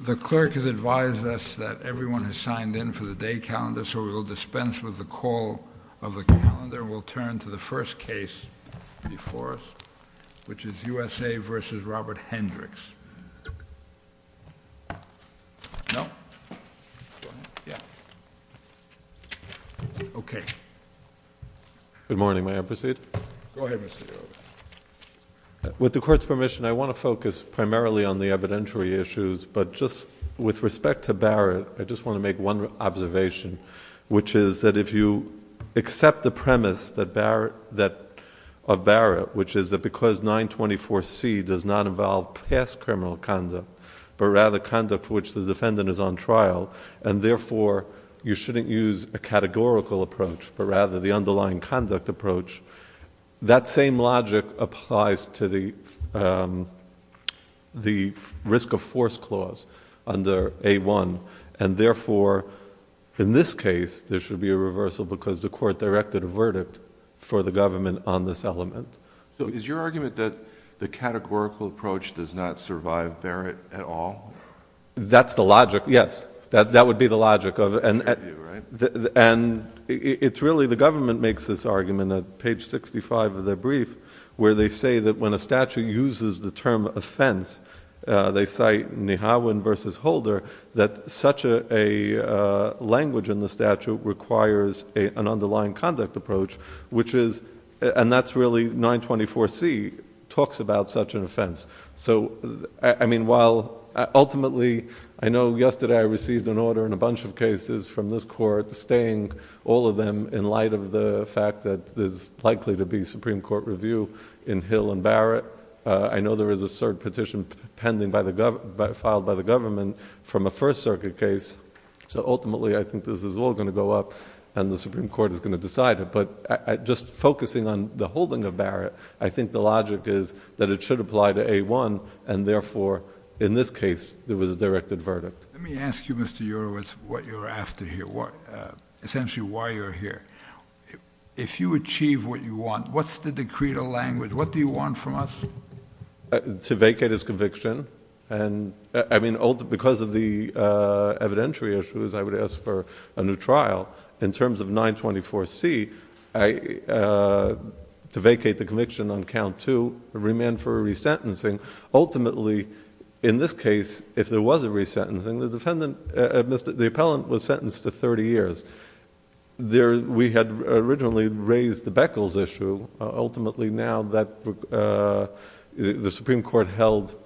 The clerk has advised us that everyone has signed in for the day calendar, so we will dispense with the call of the calendar. We'll turn to the first case before us, which is USA v. Robert Hendricks. Good morning. May I proceed? Go ahead, Mr. Earle. With the Court's permission, I want to focus primarily on the evidentiary issues, but just with respect to Barrett, I just want to make one observation, which is that if you accept the premise of Barrett, which is that because 924C does not involve past criminal conduct, but rather conduct for which the defendant is on trial, and therefore you shouldn't use a categorical approach, but rather the underlying conduct approach, that same logic applies to the risk of force clause under A1, and therefore in this case there should be a reversal because the Court directed a verdict for the government on this element. So is your argument that the categorical approach does not survive Barrett at all? That's the logic, yes. That would be the logic. And it's really the government makes this argument at page 65 of their brief where they say that when a statute uses the term offense, they cite Nihauen v. Holder, that such a language in the statute requires an underlying conduct approach, and that's really 924C talks about such an offense. Ultimately, I know yesterday I received an order and a bunch of cases from this Court, staying all of them in light of the fact that there's likely to be Supreme Court review in Hill and Barrett. I know there is a cert petition filed by the government from a First Circuit case, so ultimately I think this is all going to go up and the Supreme Court is going to decide it. But just focusing on the holding of Barrett, I think the logic is that it should apply to A1, and therefore in this case there was a directed verdict. Let me ask you, Mr. Urowitz, what you're after here, essentially why you're here. If you achieve what you want, what's the decreed language? What do you want from us? To vacate his conviction. I mean, because of the evidentiary issues, I would ask for a new trial. In terms of 924C, to vacate the conviction on count two, remand for resentencing. Ultimately, in this case, if there was a resentencing, the defendant, the appellant was sentenced to 30 years. We had originally raised the Beckles issue. Ultimately now the Supreme Court held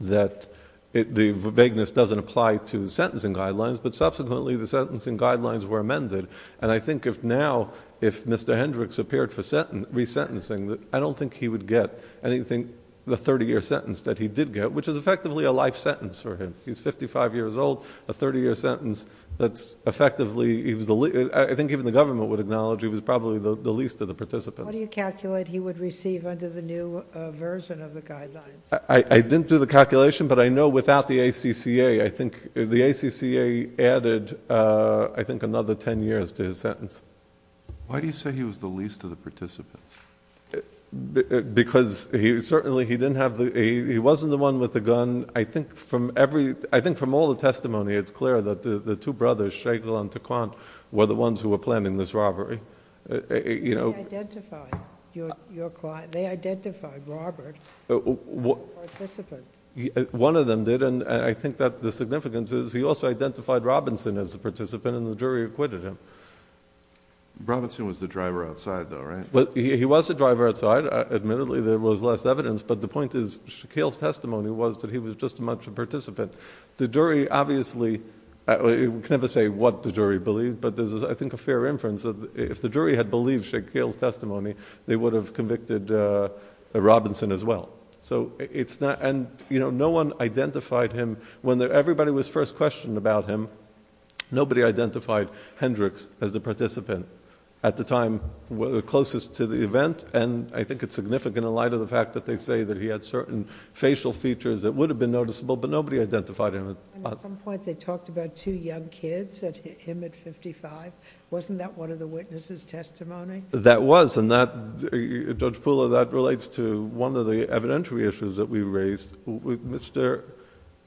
that the vagueness doesn't apply to sentencing guidelines, but subsequently the sentencing guidelines were amended. And I think if now, if Mr. Hendricks appeared for resentencing, I don't think he would get anything, the 30-year sentence that he did get, which is effectively a life sentence for him. He's 55 years old, a 30-year sentence that's effectively, I think even the government would acknowledge, he was probably the least of the participants. What do you calculate he would receive under the new version of the guidelines? I didn't do the calculation, but I know without the ACCA, I think the ACCA added, I think, another 10 years to his sentence. Why do you say he was the least of the participants? Because certainly he wasn't the one with the gun. I think from all the testimony, it's clear that the two brothers, Schlegel and Taquan, were the ones who were planning this robbery. They identified Robert as a participant. One of them did, and I think that the significance is he also identified Robinson as a participant, and the jury acquitted him. Robinson was the driver outside, though, right? He was the driver outside. Admittedly, there was less evidence, but the point is, Schlegel's testimony was that he was just as much a participant. The jury obviously can never say what the jury believed, but there's, I think, a fair inference that if the jury had believed Schlegel's testimony, they would have convicted Robinson as well. No one identified him. When everybody was first questioned about him, nobody identified Hendrix as the participant. At the time, the closest to the event, and I think it's significant in light of the fact that they say that he had certain facial features that would have been noticeable, but nobody identified him. At some point, they talked about two young kids, him at fifty-five. Wasn't that one of the witnesses' testimony? That was, and Judge Pula, that relates to one of the evidentiary issues that we raised. Mr.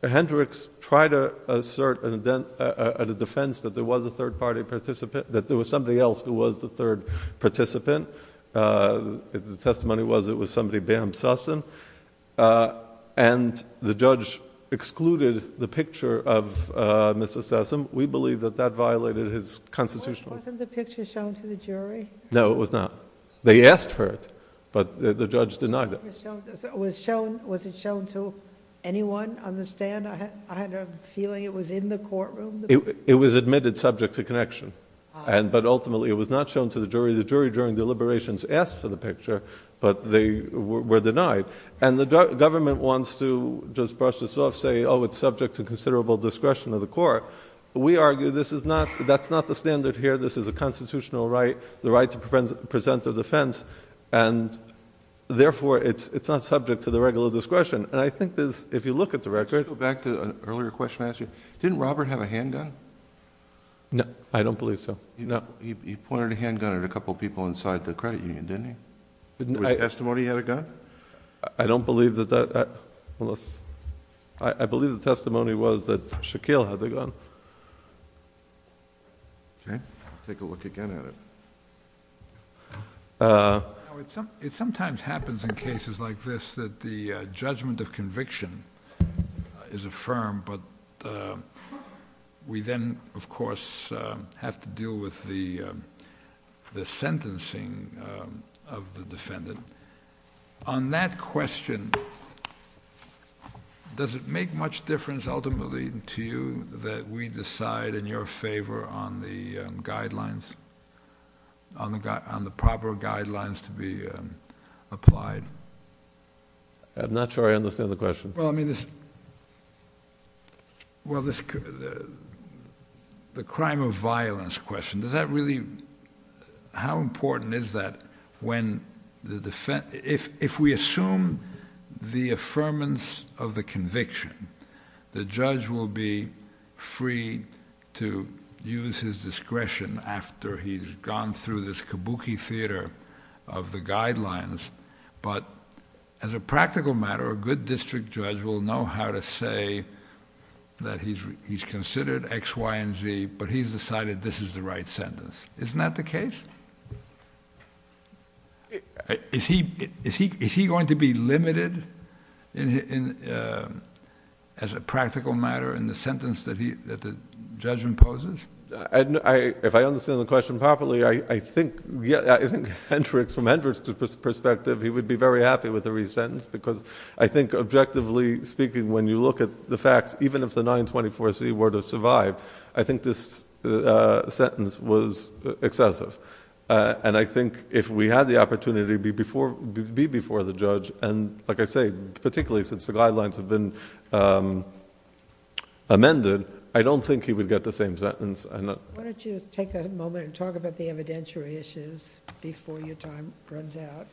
Hendrix tried to assert a defense that there was a third-party participant, that there was somebody else who was the third participant. The testimony was it was somebody, Bam Susson, and the judge excluded the picture of Mrs. Susson. We believe that that violated his constitutional... Wasn't the picture shown to the jury? No, it was not. They asked for it, but the judge denied it. Was it shown to anyone on the stand? I had a feeling it was in the courtroom. It was admitted subject to connection, but ultimately it was not shown to the jury. The jury, during deliberations, asked for the picture, but they were denied. The government wants to just brush this off, say, oh, it's subject to considerable discretion of the court. We argue that's not the standard here. This is a constitutional right, the right to present a defense. Therefore, it's not subject to the regular discretion. I think if you look at the record... Let's go back to an earlier question I asked you. Didn't Robert have a handgun? No, I don't believe so. He pointed a handgun at a couple of people inside the credit union, didn't he? Was the testimony he had a gun? I don't believe that that... I believe the testimony was that Shaquille had the gun. Take a look again at it. It sometimes happens in cases like this that the judgment of conviction is affirmed, but we then, of course, have to deal with the sentencing of the defendant. On that question, does it make much difference ultimately to you that we decide in your favor on the proper guidelines to be applied? I'm not sure I understand the question. The crime of violence question, does that really... If we assume the affirmance of the conviction, the judge will be free to use his discretion after he's gone through this kabuki theater of the guidelines, but as a practical matter, a good district judge will know how to say that he's considered X, Y, and Z, but he's decided this is the right sentence. Isn't that the case? Is he going to be limited as a practical matter in the sentence that the judge imposes? If I understand the question properly, I think Hendricks, from Hendricks' perspective, he would be very happy with the re-sentence because I think objectively speaking, when you look at the facts, even if the 924C were to survive, I think this sentence was excessive, and I think if we had the opportunity to be before the judge, and like I say, particularly since the guidelines have been amended, I don't think he would get the same sentence. Why don't you take a moment and talk about the evidentiary issues before your time runs out?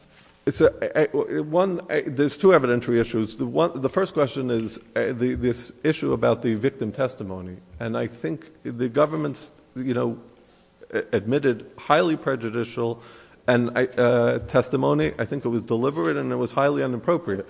There's two evidentiary issues. The first question is this issue about the victim testimony, and I think the government admitted highly prejudicial testimony. I think it was deliberate and it was highly inappropriate.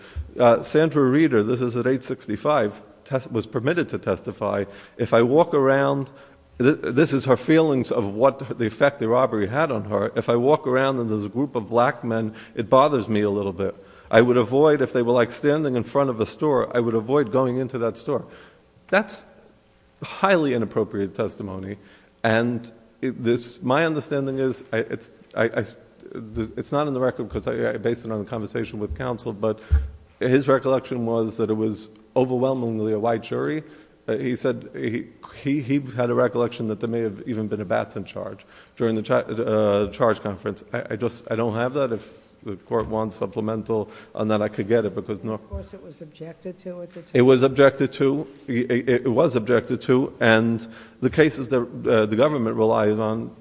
Sandra Reeder, this is at 865, was permitted to testify. If I walk around, this is her feelings of what the effect the robbery had on her. If I walk around and there's a group of black men, it bothers me a little bit. I would avoid, if they were standing in front of a store, I would avoid going into that store. That's highly inappropriate testimony, and my understanding is, it's not in the record because I based it on a conversation with counsel, but his recollection was that it was overwhelmingly a white jury. He said he had a recollection that there may have even been a bats in charge during the charge conference. I don't have that. If the court wants supplemental on that, I could get it. Of course it was objected to at the time. It was objected to, it was objected to, and the cases that the government relies on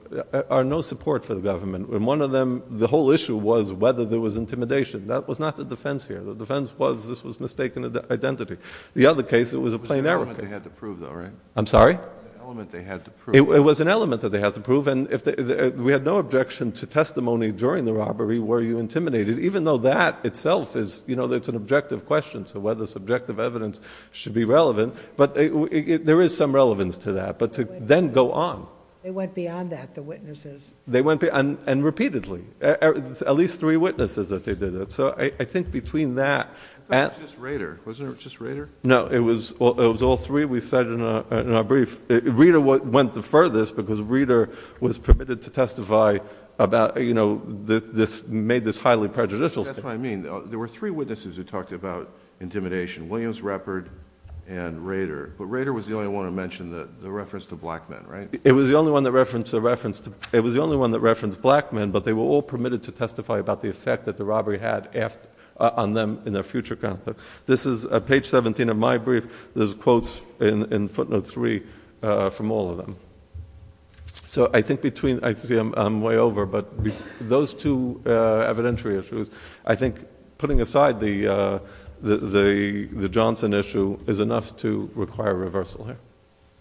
are no support for the government. One of them, the whole issue was whether there was intimidation. That was not the defense here. The defense was this was mistaken identity. The other case, it was a plain error case. It was an element they had to prove, though, right? I'm sorry? It was an element they had to prove. It was an element that they had to prove, and we had no objection to testimony during the robbery where you intimidated, even though that itself is an objective question, so whether subjective evidence should be relevant, but there is some relevance to that, but to then go on. They went beyond that, the witnesses. They went beyond, and repeatedly. At least three witnesses that they did it. So I think between that and... I thought it was just Rader. Wasn't it just Rader? No, it was all three we cited in our brief. Rader went the furthest because Rader was permitted to testify about, you know, made this highly prejudicial statement. That's what I mean. There were three witnesses who talked about intimidation, Williams, Ruppert, and Rader, but Rader was the only one to mention the reference to black men, right? It was the only one that referenced black men, but they were all permitted to testify about the effect that the robbery had on them in their future conflict. This is page 17 of my brief. There's quotes in footnote three from all of them. So I think between... I see I'm way over, but those two evidentiary issues, I think putting aside the Johnson issue is enough to require reversal here.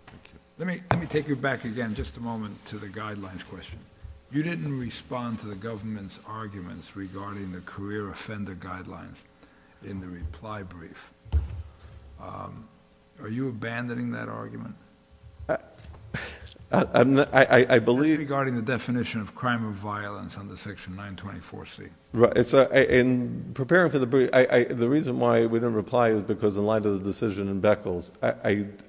Thank you. Let me take you back again just a moment to the guidelines question. You didn't respond to the government's arguments regarding the career offender guidelines in the reply brief. Are you abandoning that argument? I believe... Regarding the definition of crime of violence under section 924C. Right. So in preparing for the brief, the reason why we didn't reply is because in light of the decision in Beckels,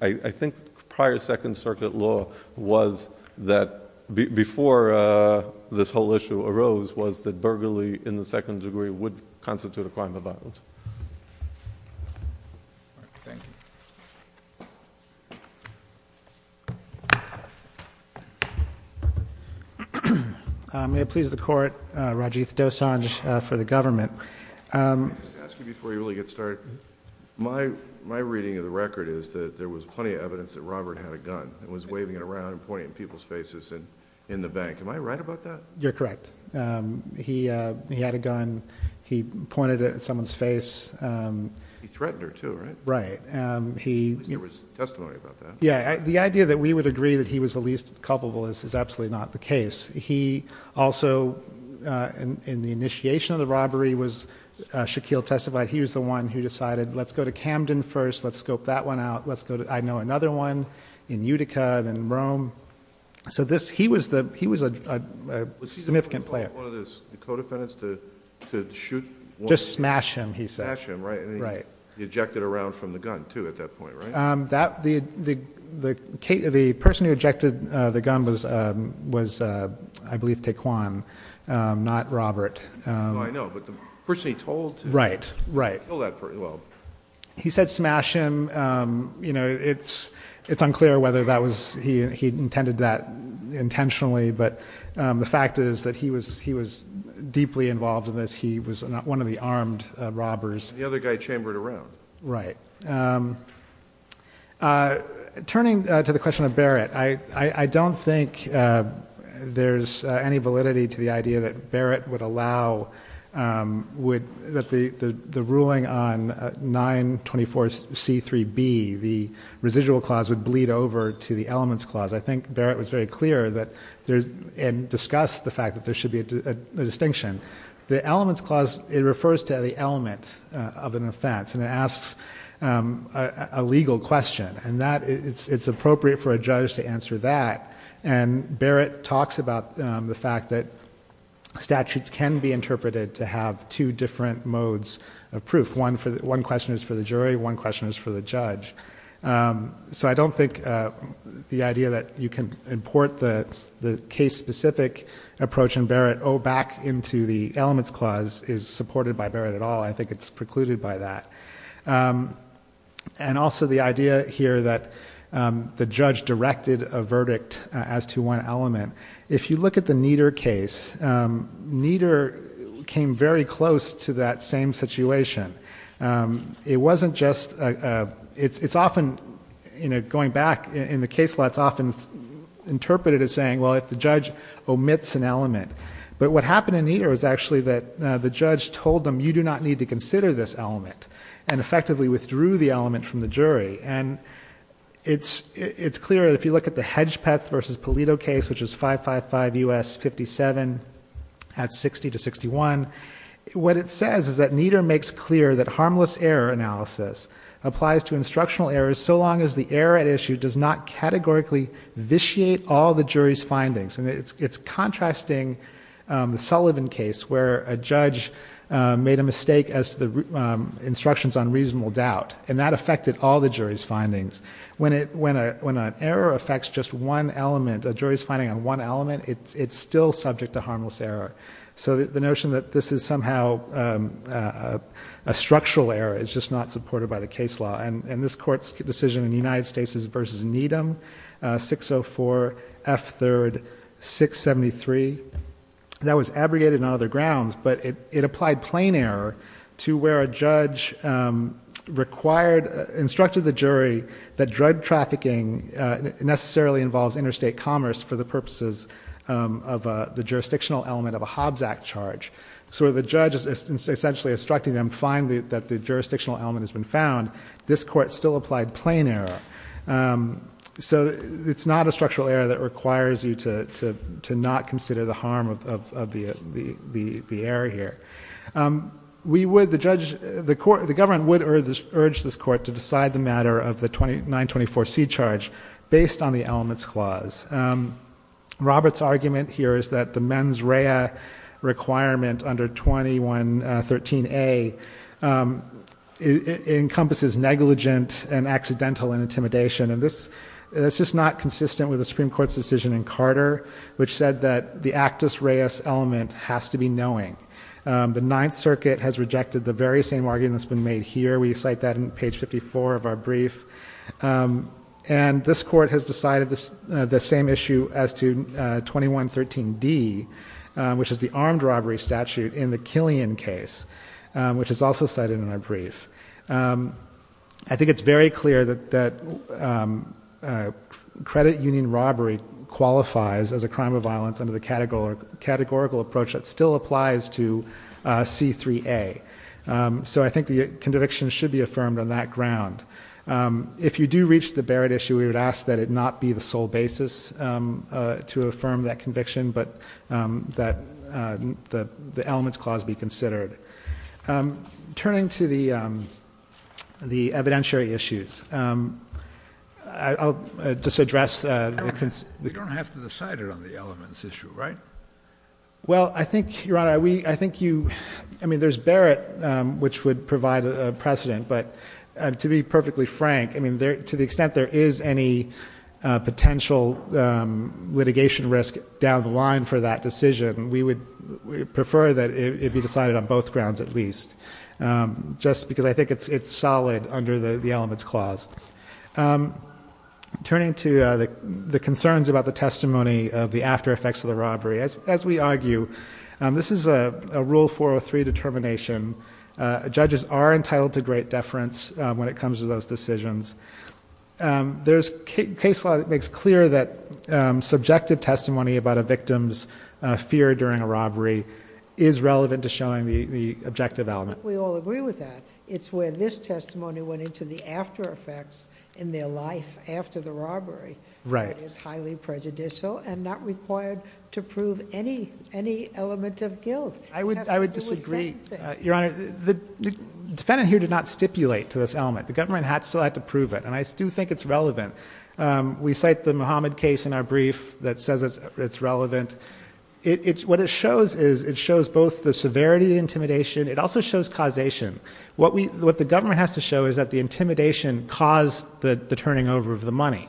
I think prior Second Circuit law was that before this whole issue arose, was that burglary in the second degree would constitute a crime of violence. Thank you. May it please the court. Rajiv Dosanjh for the government. Can I just ask you before you really get started? My reading of the record is that there was plenty of evidence that Robert had a gun and was waving it around and pointing it in people's faces in the bank. Am I right about that? You're correct. He had a gun. He pointed it at someone's face. He threatened her too, right? Right. There was testimony about that. Yeah. The idea that we would agree that he was the least culpable is absolutely not the case. He also, in the initiation of the robbery, Shaquille testified he was the one who decided, let's go to Camden first, let's scope that one out. I know another one in Utica, then Rome. So he was a significant player. Was he the one who told one of his co-defendants to shoot one of his... Just smash him, he said. Smash him, right. And he ejected a round from the gun too at that point, right? The person who ejected the gun was, I believe, Taequann, not Robert. Oh, I know. But the person he told to... Right, right. Well... He said smash him. It's unclear whether he intended that intentionally, but the fact is that he was deeply involved in this. He was one of the armed robbers. And the other guy chambered a round. Right. Turning to the question of Barrett, I don't think there's any validity to the idea that Barrett would allow... that the ruling on 924C3B, the residual clause, would bleed over to the elements clause. I think Barrett was very clear and discussed the fact that there should be a distinction. The elements clause, it refers to the element of an offense, and it asks a legal question. And it's appropriate for a judge to answer that. And Barrett talks about the fact that statutes can be interpreted to have two different modes of proof. One question is for the jury. One question is for the judge. So I don't think the idea that you can import the case-specific approach in Barrett back into the elements clause is supported by Barrett at all. I think it's precluded by that. And also the idea here that the judge directed a verdict as to one element. If you look at the Nieder case, Nieder came very close to that same situation. It wasn't just... It's often, going back in the case, it's often interpreted as saying, well, if the judge omits an element. But what happened in Nieder is actually that the judge told them, you do not need to consider this element, and effectively withdrew the element from the jury. And it's clear that if you look at the Hedgepeth v. Polito case, which is 555 U.S. 57 at 60 to 61, what it says is that Nieder makes clear that harmless error analysis applies to instructional errors so long as the error at issue does not categorically vitiate all the jury's findings. And it's contrasting the Sullivan case where a judge made a mistake as to the instructions on reasonable doubt, and that affected all the jury's findings. When an error affects just one element, a jury's finding on one element, it's still subject to harmless error. So the notion that this is somehow a structural error is just not supported by the case law. And this court's decision in the United States is v. Needham, 604 F. 3rd, 673. That was abrogated on other grounds, but it applied plain error to where a judge required, instructed the jury that drug trafficking necessarily involves interstate commerce for the purposes of the jurisdictional element of a Hobbs Act charge. So where the judge is essentially instructing them, find that the jurisdictional element has been found, this court still applied plain error. So it's not a structural error that requires you to not consider the harm of the error here. The government would urge this court to decide the matter of the 924C charge based on the elements clause. Robert's argument here is that the mens rea requirement under 2113A encompasses negligent and accidental intimidation. And this is not consistent with the Supreme Court's decision in Carter, which said that the actus reus element has to be knowing. The Ninth Circuit has rejected the very same argument that's been made here. We cite that in page 54 of our brief. And this court has decided the same issue as to 2113D, which is the armed robbery statute in the Killian case, which is also cited in our brief. I think it's very clear that credit union robbery qualifies as a crime of violence under the categorical approach that still applies to C3A. So I think the conviction should be affirmed on that ground. If you do reach the Barrett issue, we would ask that it not be the sole basis to affirm that conviction, but that the elements clause be considered. Turning to the evidentiary issues, I'll just address the concerns. You don't have to decide it on the elements issue, right? Well, I think, Your Honor, I mean, there's Barrett, which would provide a precedent. But to be perfectly frank, I mean, to the extent there is any potential litigation risk down the line for that decision, we would prefer that it be decided on both grounds at least, just because I think it's solid under the elements clause. Turning to the concerns about the testimony of the after effects of the robbery, as we argue, this is a Rule 403 determination. Judges are entitled to great deference when it comes to those decisions. There's case law that makes clear that subjective testimony about a victim's fear during a robbery is relevant to showing the objective element. We all agree with that. It's where this testimony went into the after effects in their life after the robbery that is highly prejudicial and not required to prove any element of guilt. I would disagree. Your Honor, the defendant here did not stipulate to this element. The government still had to prove it, and I do think it's relevant. We cite the Muhammad case in our brief that says it's relevant. What it shows is it shows both the severity of the intimidation. It also shows causation. What the government has to show is that the intimidation caused the turning over of the money.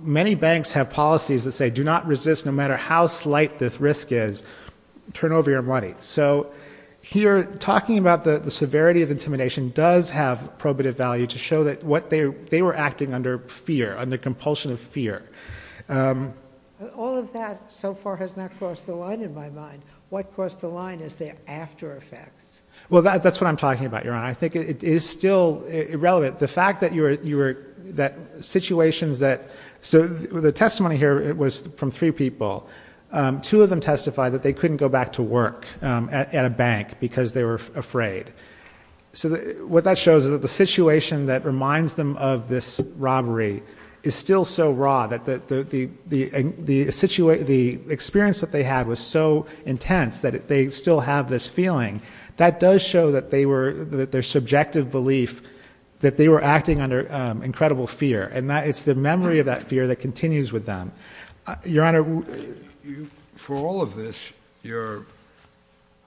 Many banks have policies that say do not resist no matter how slight this risk is. Turn over your money. So here talking about the severity of intimidation does have probative value to show that they were acting under fear, under compulsion of fear. All of that so far has not crossed the line in my mind. What crossed the line is their after effects. Well, that's what I'm talking about, Your Honor. I think it is still relevant. The fact that situations that so the testimony here was from three people. Two of them testified that they couldn't go back to work at a bank because they were afraid. So what that shows is that the situation that reminds them of this robbery is still so raw that the experience that they had was so intense that they still have this feeling. That does show that their subjective belief that they were acting under incredible fear. And it's the memory of that fear that continues with them. Your Honor. For all of this, you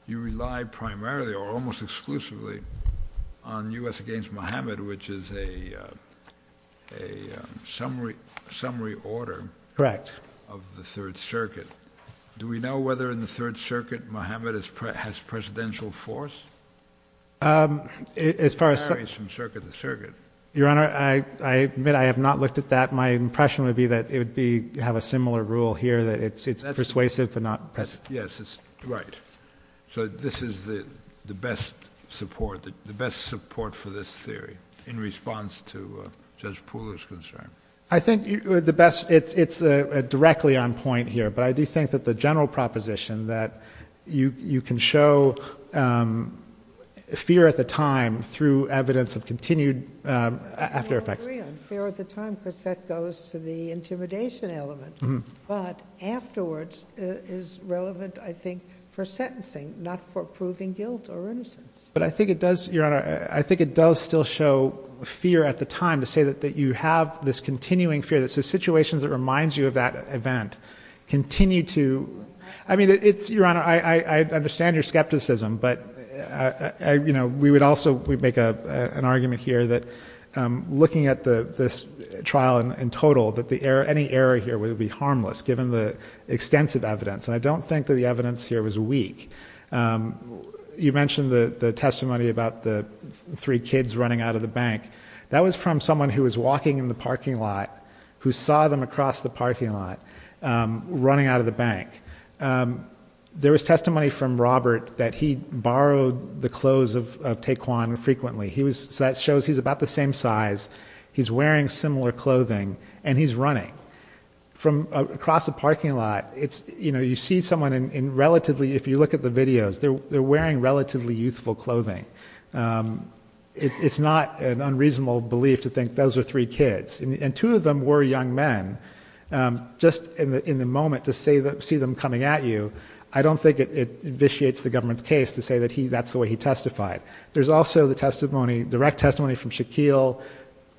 rely primarily or almost exclusively on U.S. against Mohammed, which is a summary order of the Third Circuit. Correct. Do we know whether in the Third Circuit Mohammed has presidential force? It varies from circuit to circuit. Your Honor, I admit I have not looked at that. My impression would be that it would have a similar rule here that it's persuasive but not present. Yes. Right. So this is the best support for this theory in response to Judge Pooler's concern. I think it's directly on point here. But I do think that the general proposition that you can show fear at the time through evidence of continued after effects. I agree on fear at the time because that goes to the intimidation element. But afterwards is relevant, I think, for sentencing, not for proving guilt or innocence. But I think it does, Your Honor, I think it does still show fear at the time to say that you have this continuing fear. So situations that remind you of that event continue to. I mean, it's, Your Honor, I understand your skepticism. But, you know, we would also make an argument here that looking at this trial in total, that any error here would be harmless given the extensive evidence. And I don't think that the evidence here was weak. You mentioned the testimony about the three kids running out of the bank. That was from someone who was walking in the parking lot who saw them across the parking lot running out of the bank. There was testimony from Robert that he borrowed the clothes of Tae Kwon frequently. So that shows he's about the same size, he's wearing similar clothing, and he's running. From across the parking lot, you see someone in relatively, if you look at the videos, they're wearing relatively youthful clothing. It's not an unreasonable belief to think those are three kids. And two of them were young men. Just in the moment, to see them coming at you, I don't think it vitiates the government's case to say that that's the way he testified. There's also the testimony, direct testimony from Shaquille.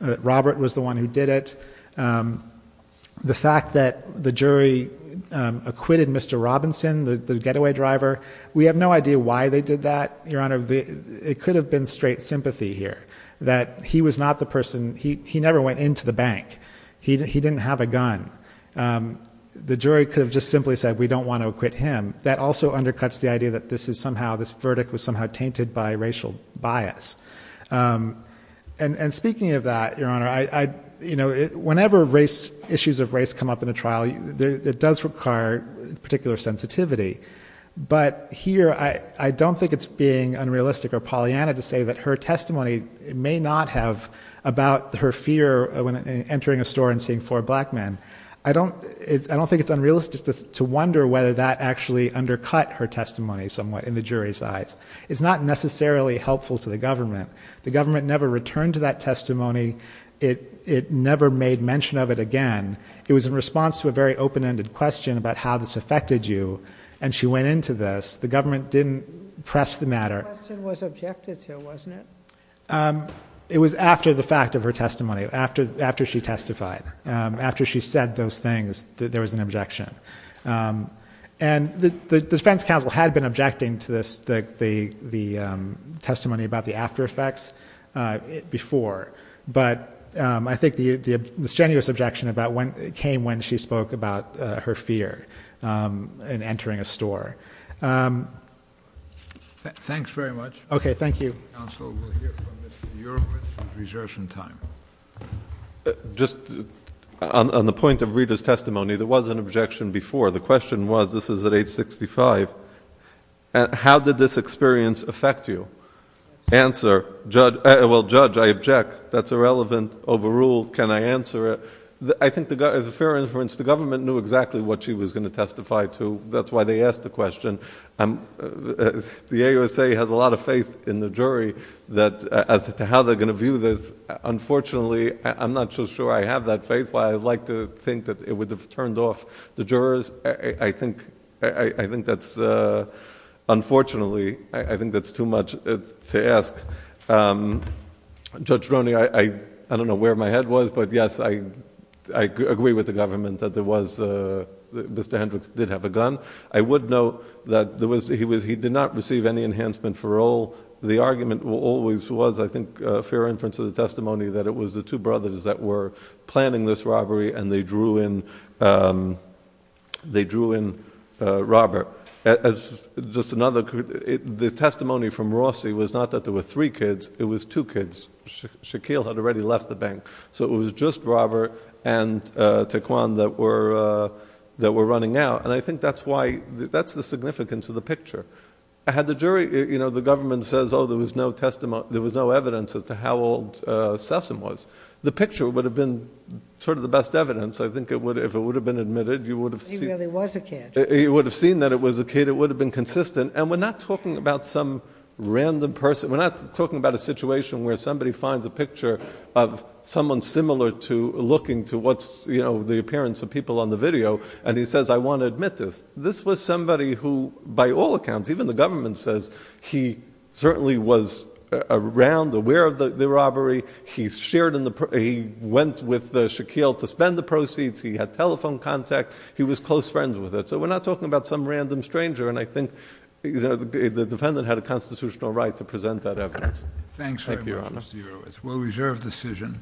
Robert was the one who did it. The fact that the jury acquitted Mr. Robinson, the getaway driver, we have no idea why they did that, Your Honor. It could have been straight sympathy here. That he was not the person, he never went into the bank. He didn't have a gun. The jury could have just simply said, we don't want to acquit him. That also undercuts the idea that this is somehow, this verdict was somehow tainted by racial bias. And speaking of that, Your Honor, whenever issues of race come up in a trial, it does require particular sensitivity. But here, I don't think it's being unrealistic or Pollyanna to say that her testimony may not have about her fear of entering a store and seeing four black men. I don't think it's unrealistic to wonder whether that actually undercut her testimony somewhat in the jury's eyes. It's not necessarily helpful to the government. The government never returned to that testimony. It never made mention of it again. It was in response to a very open-ended question about how this affected you. And she went into this. The government didn't press the matter. The question was objected to, wasn't it? It was after the fact of her testimony. After she testified. After she said those things, there was an objection. And the defense counsel had been objecting to the testimony about the after effects before. But I think the misgenuous objection came when she spoke about her fear in entering a store. Thanks very much. Okay, thank you. Counsel will hear from Ms. Europe with reservation time. Just on the point of Rita's testimony, there was an objection before. The question was, this is at age 65, how did this experience affect you? Answer. Well, Judge, I object. That's irrelevant. Overruled. Can I answer it? I think, as a fair inference, the government knew exactly what she was going to testify to. That's why they asked the question. The AUSA has a lot of faith in the jury as to how they're going to view this. Unfortunately, I'm not so sure I have that faith. Why, I'd like to think that it would have turned off the jurors. Unfortunately, I think that's too much to ask. Judge Roney, I don't know where my head was, but yes, I agree with the government that Mr. Hendricks did have a gun. I would note that he did not receive any enhancement for all. The argument always was, I think, fair inference of the testimony, that it was the two brothers that were planning this robbery and they drew in Robert. The testimony from Rossi was not that there were three kids. It was two kids. Shaquille had already left the bank. So it was just Robert and Taequann that were running out. And I think that's the significance of the picture. Had the government said, oh, there was no evidence as to how old Sessom was, the picture would have been sort of the best evidence. I think if it would have been admitted, you would have seen... He really was a kid. He would have seen that it was a kid. It would have been consistent. And we're not talking about some random person. We're not talking about a situation where somebody finds a picture of someone similar to, looking to what's the appearance of people on the video, and he says, I want to admit this. This was somebody who, by all accounts, even the government says, he certainly was around, aware of the robbery. He went with Shaquille to spend the proceeds. He had telephone contact. He was close friends with it. So we're not talking about some random stranger. And I think the defendant had a constitutional right to present that evidence. Thank you, Your Honor. It's a well-reserved decision.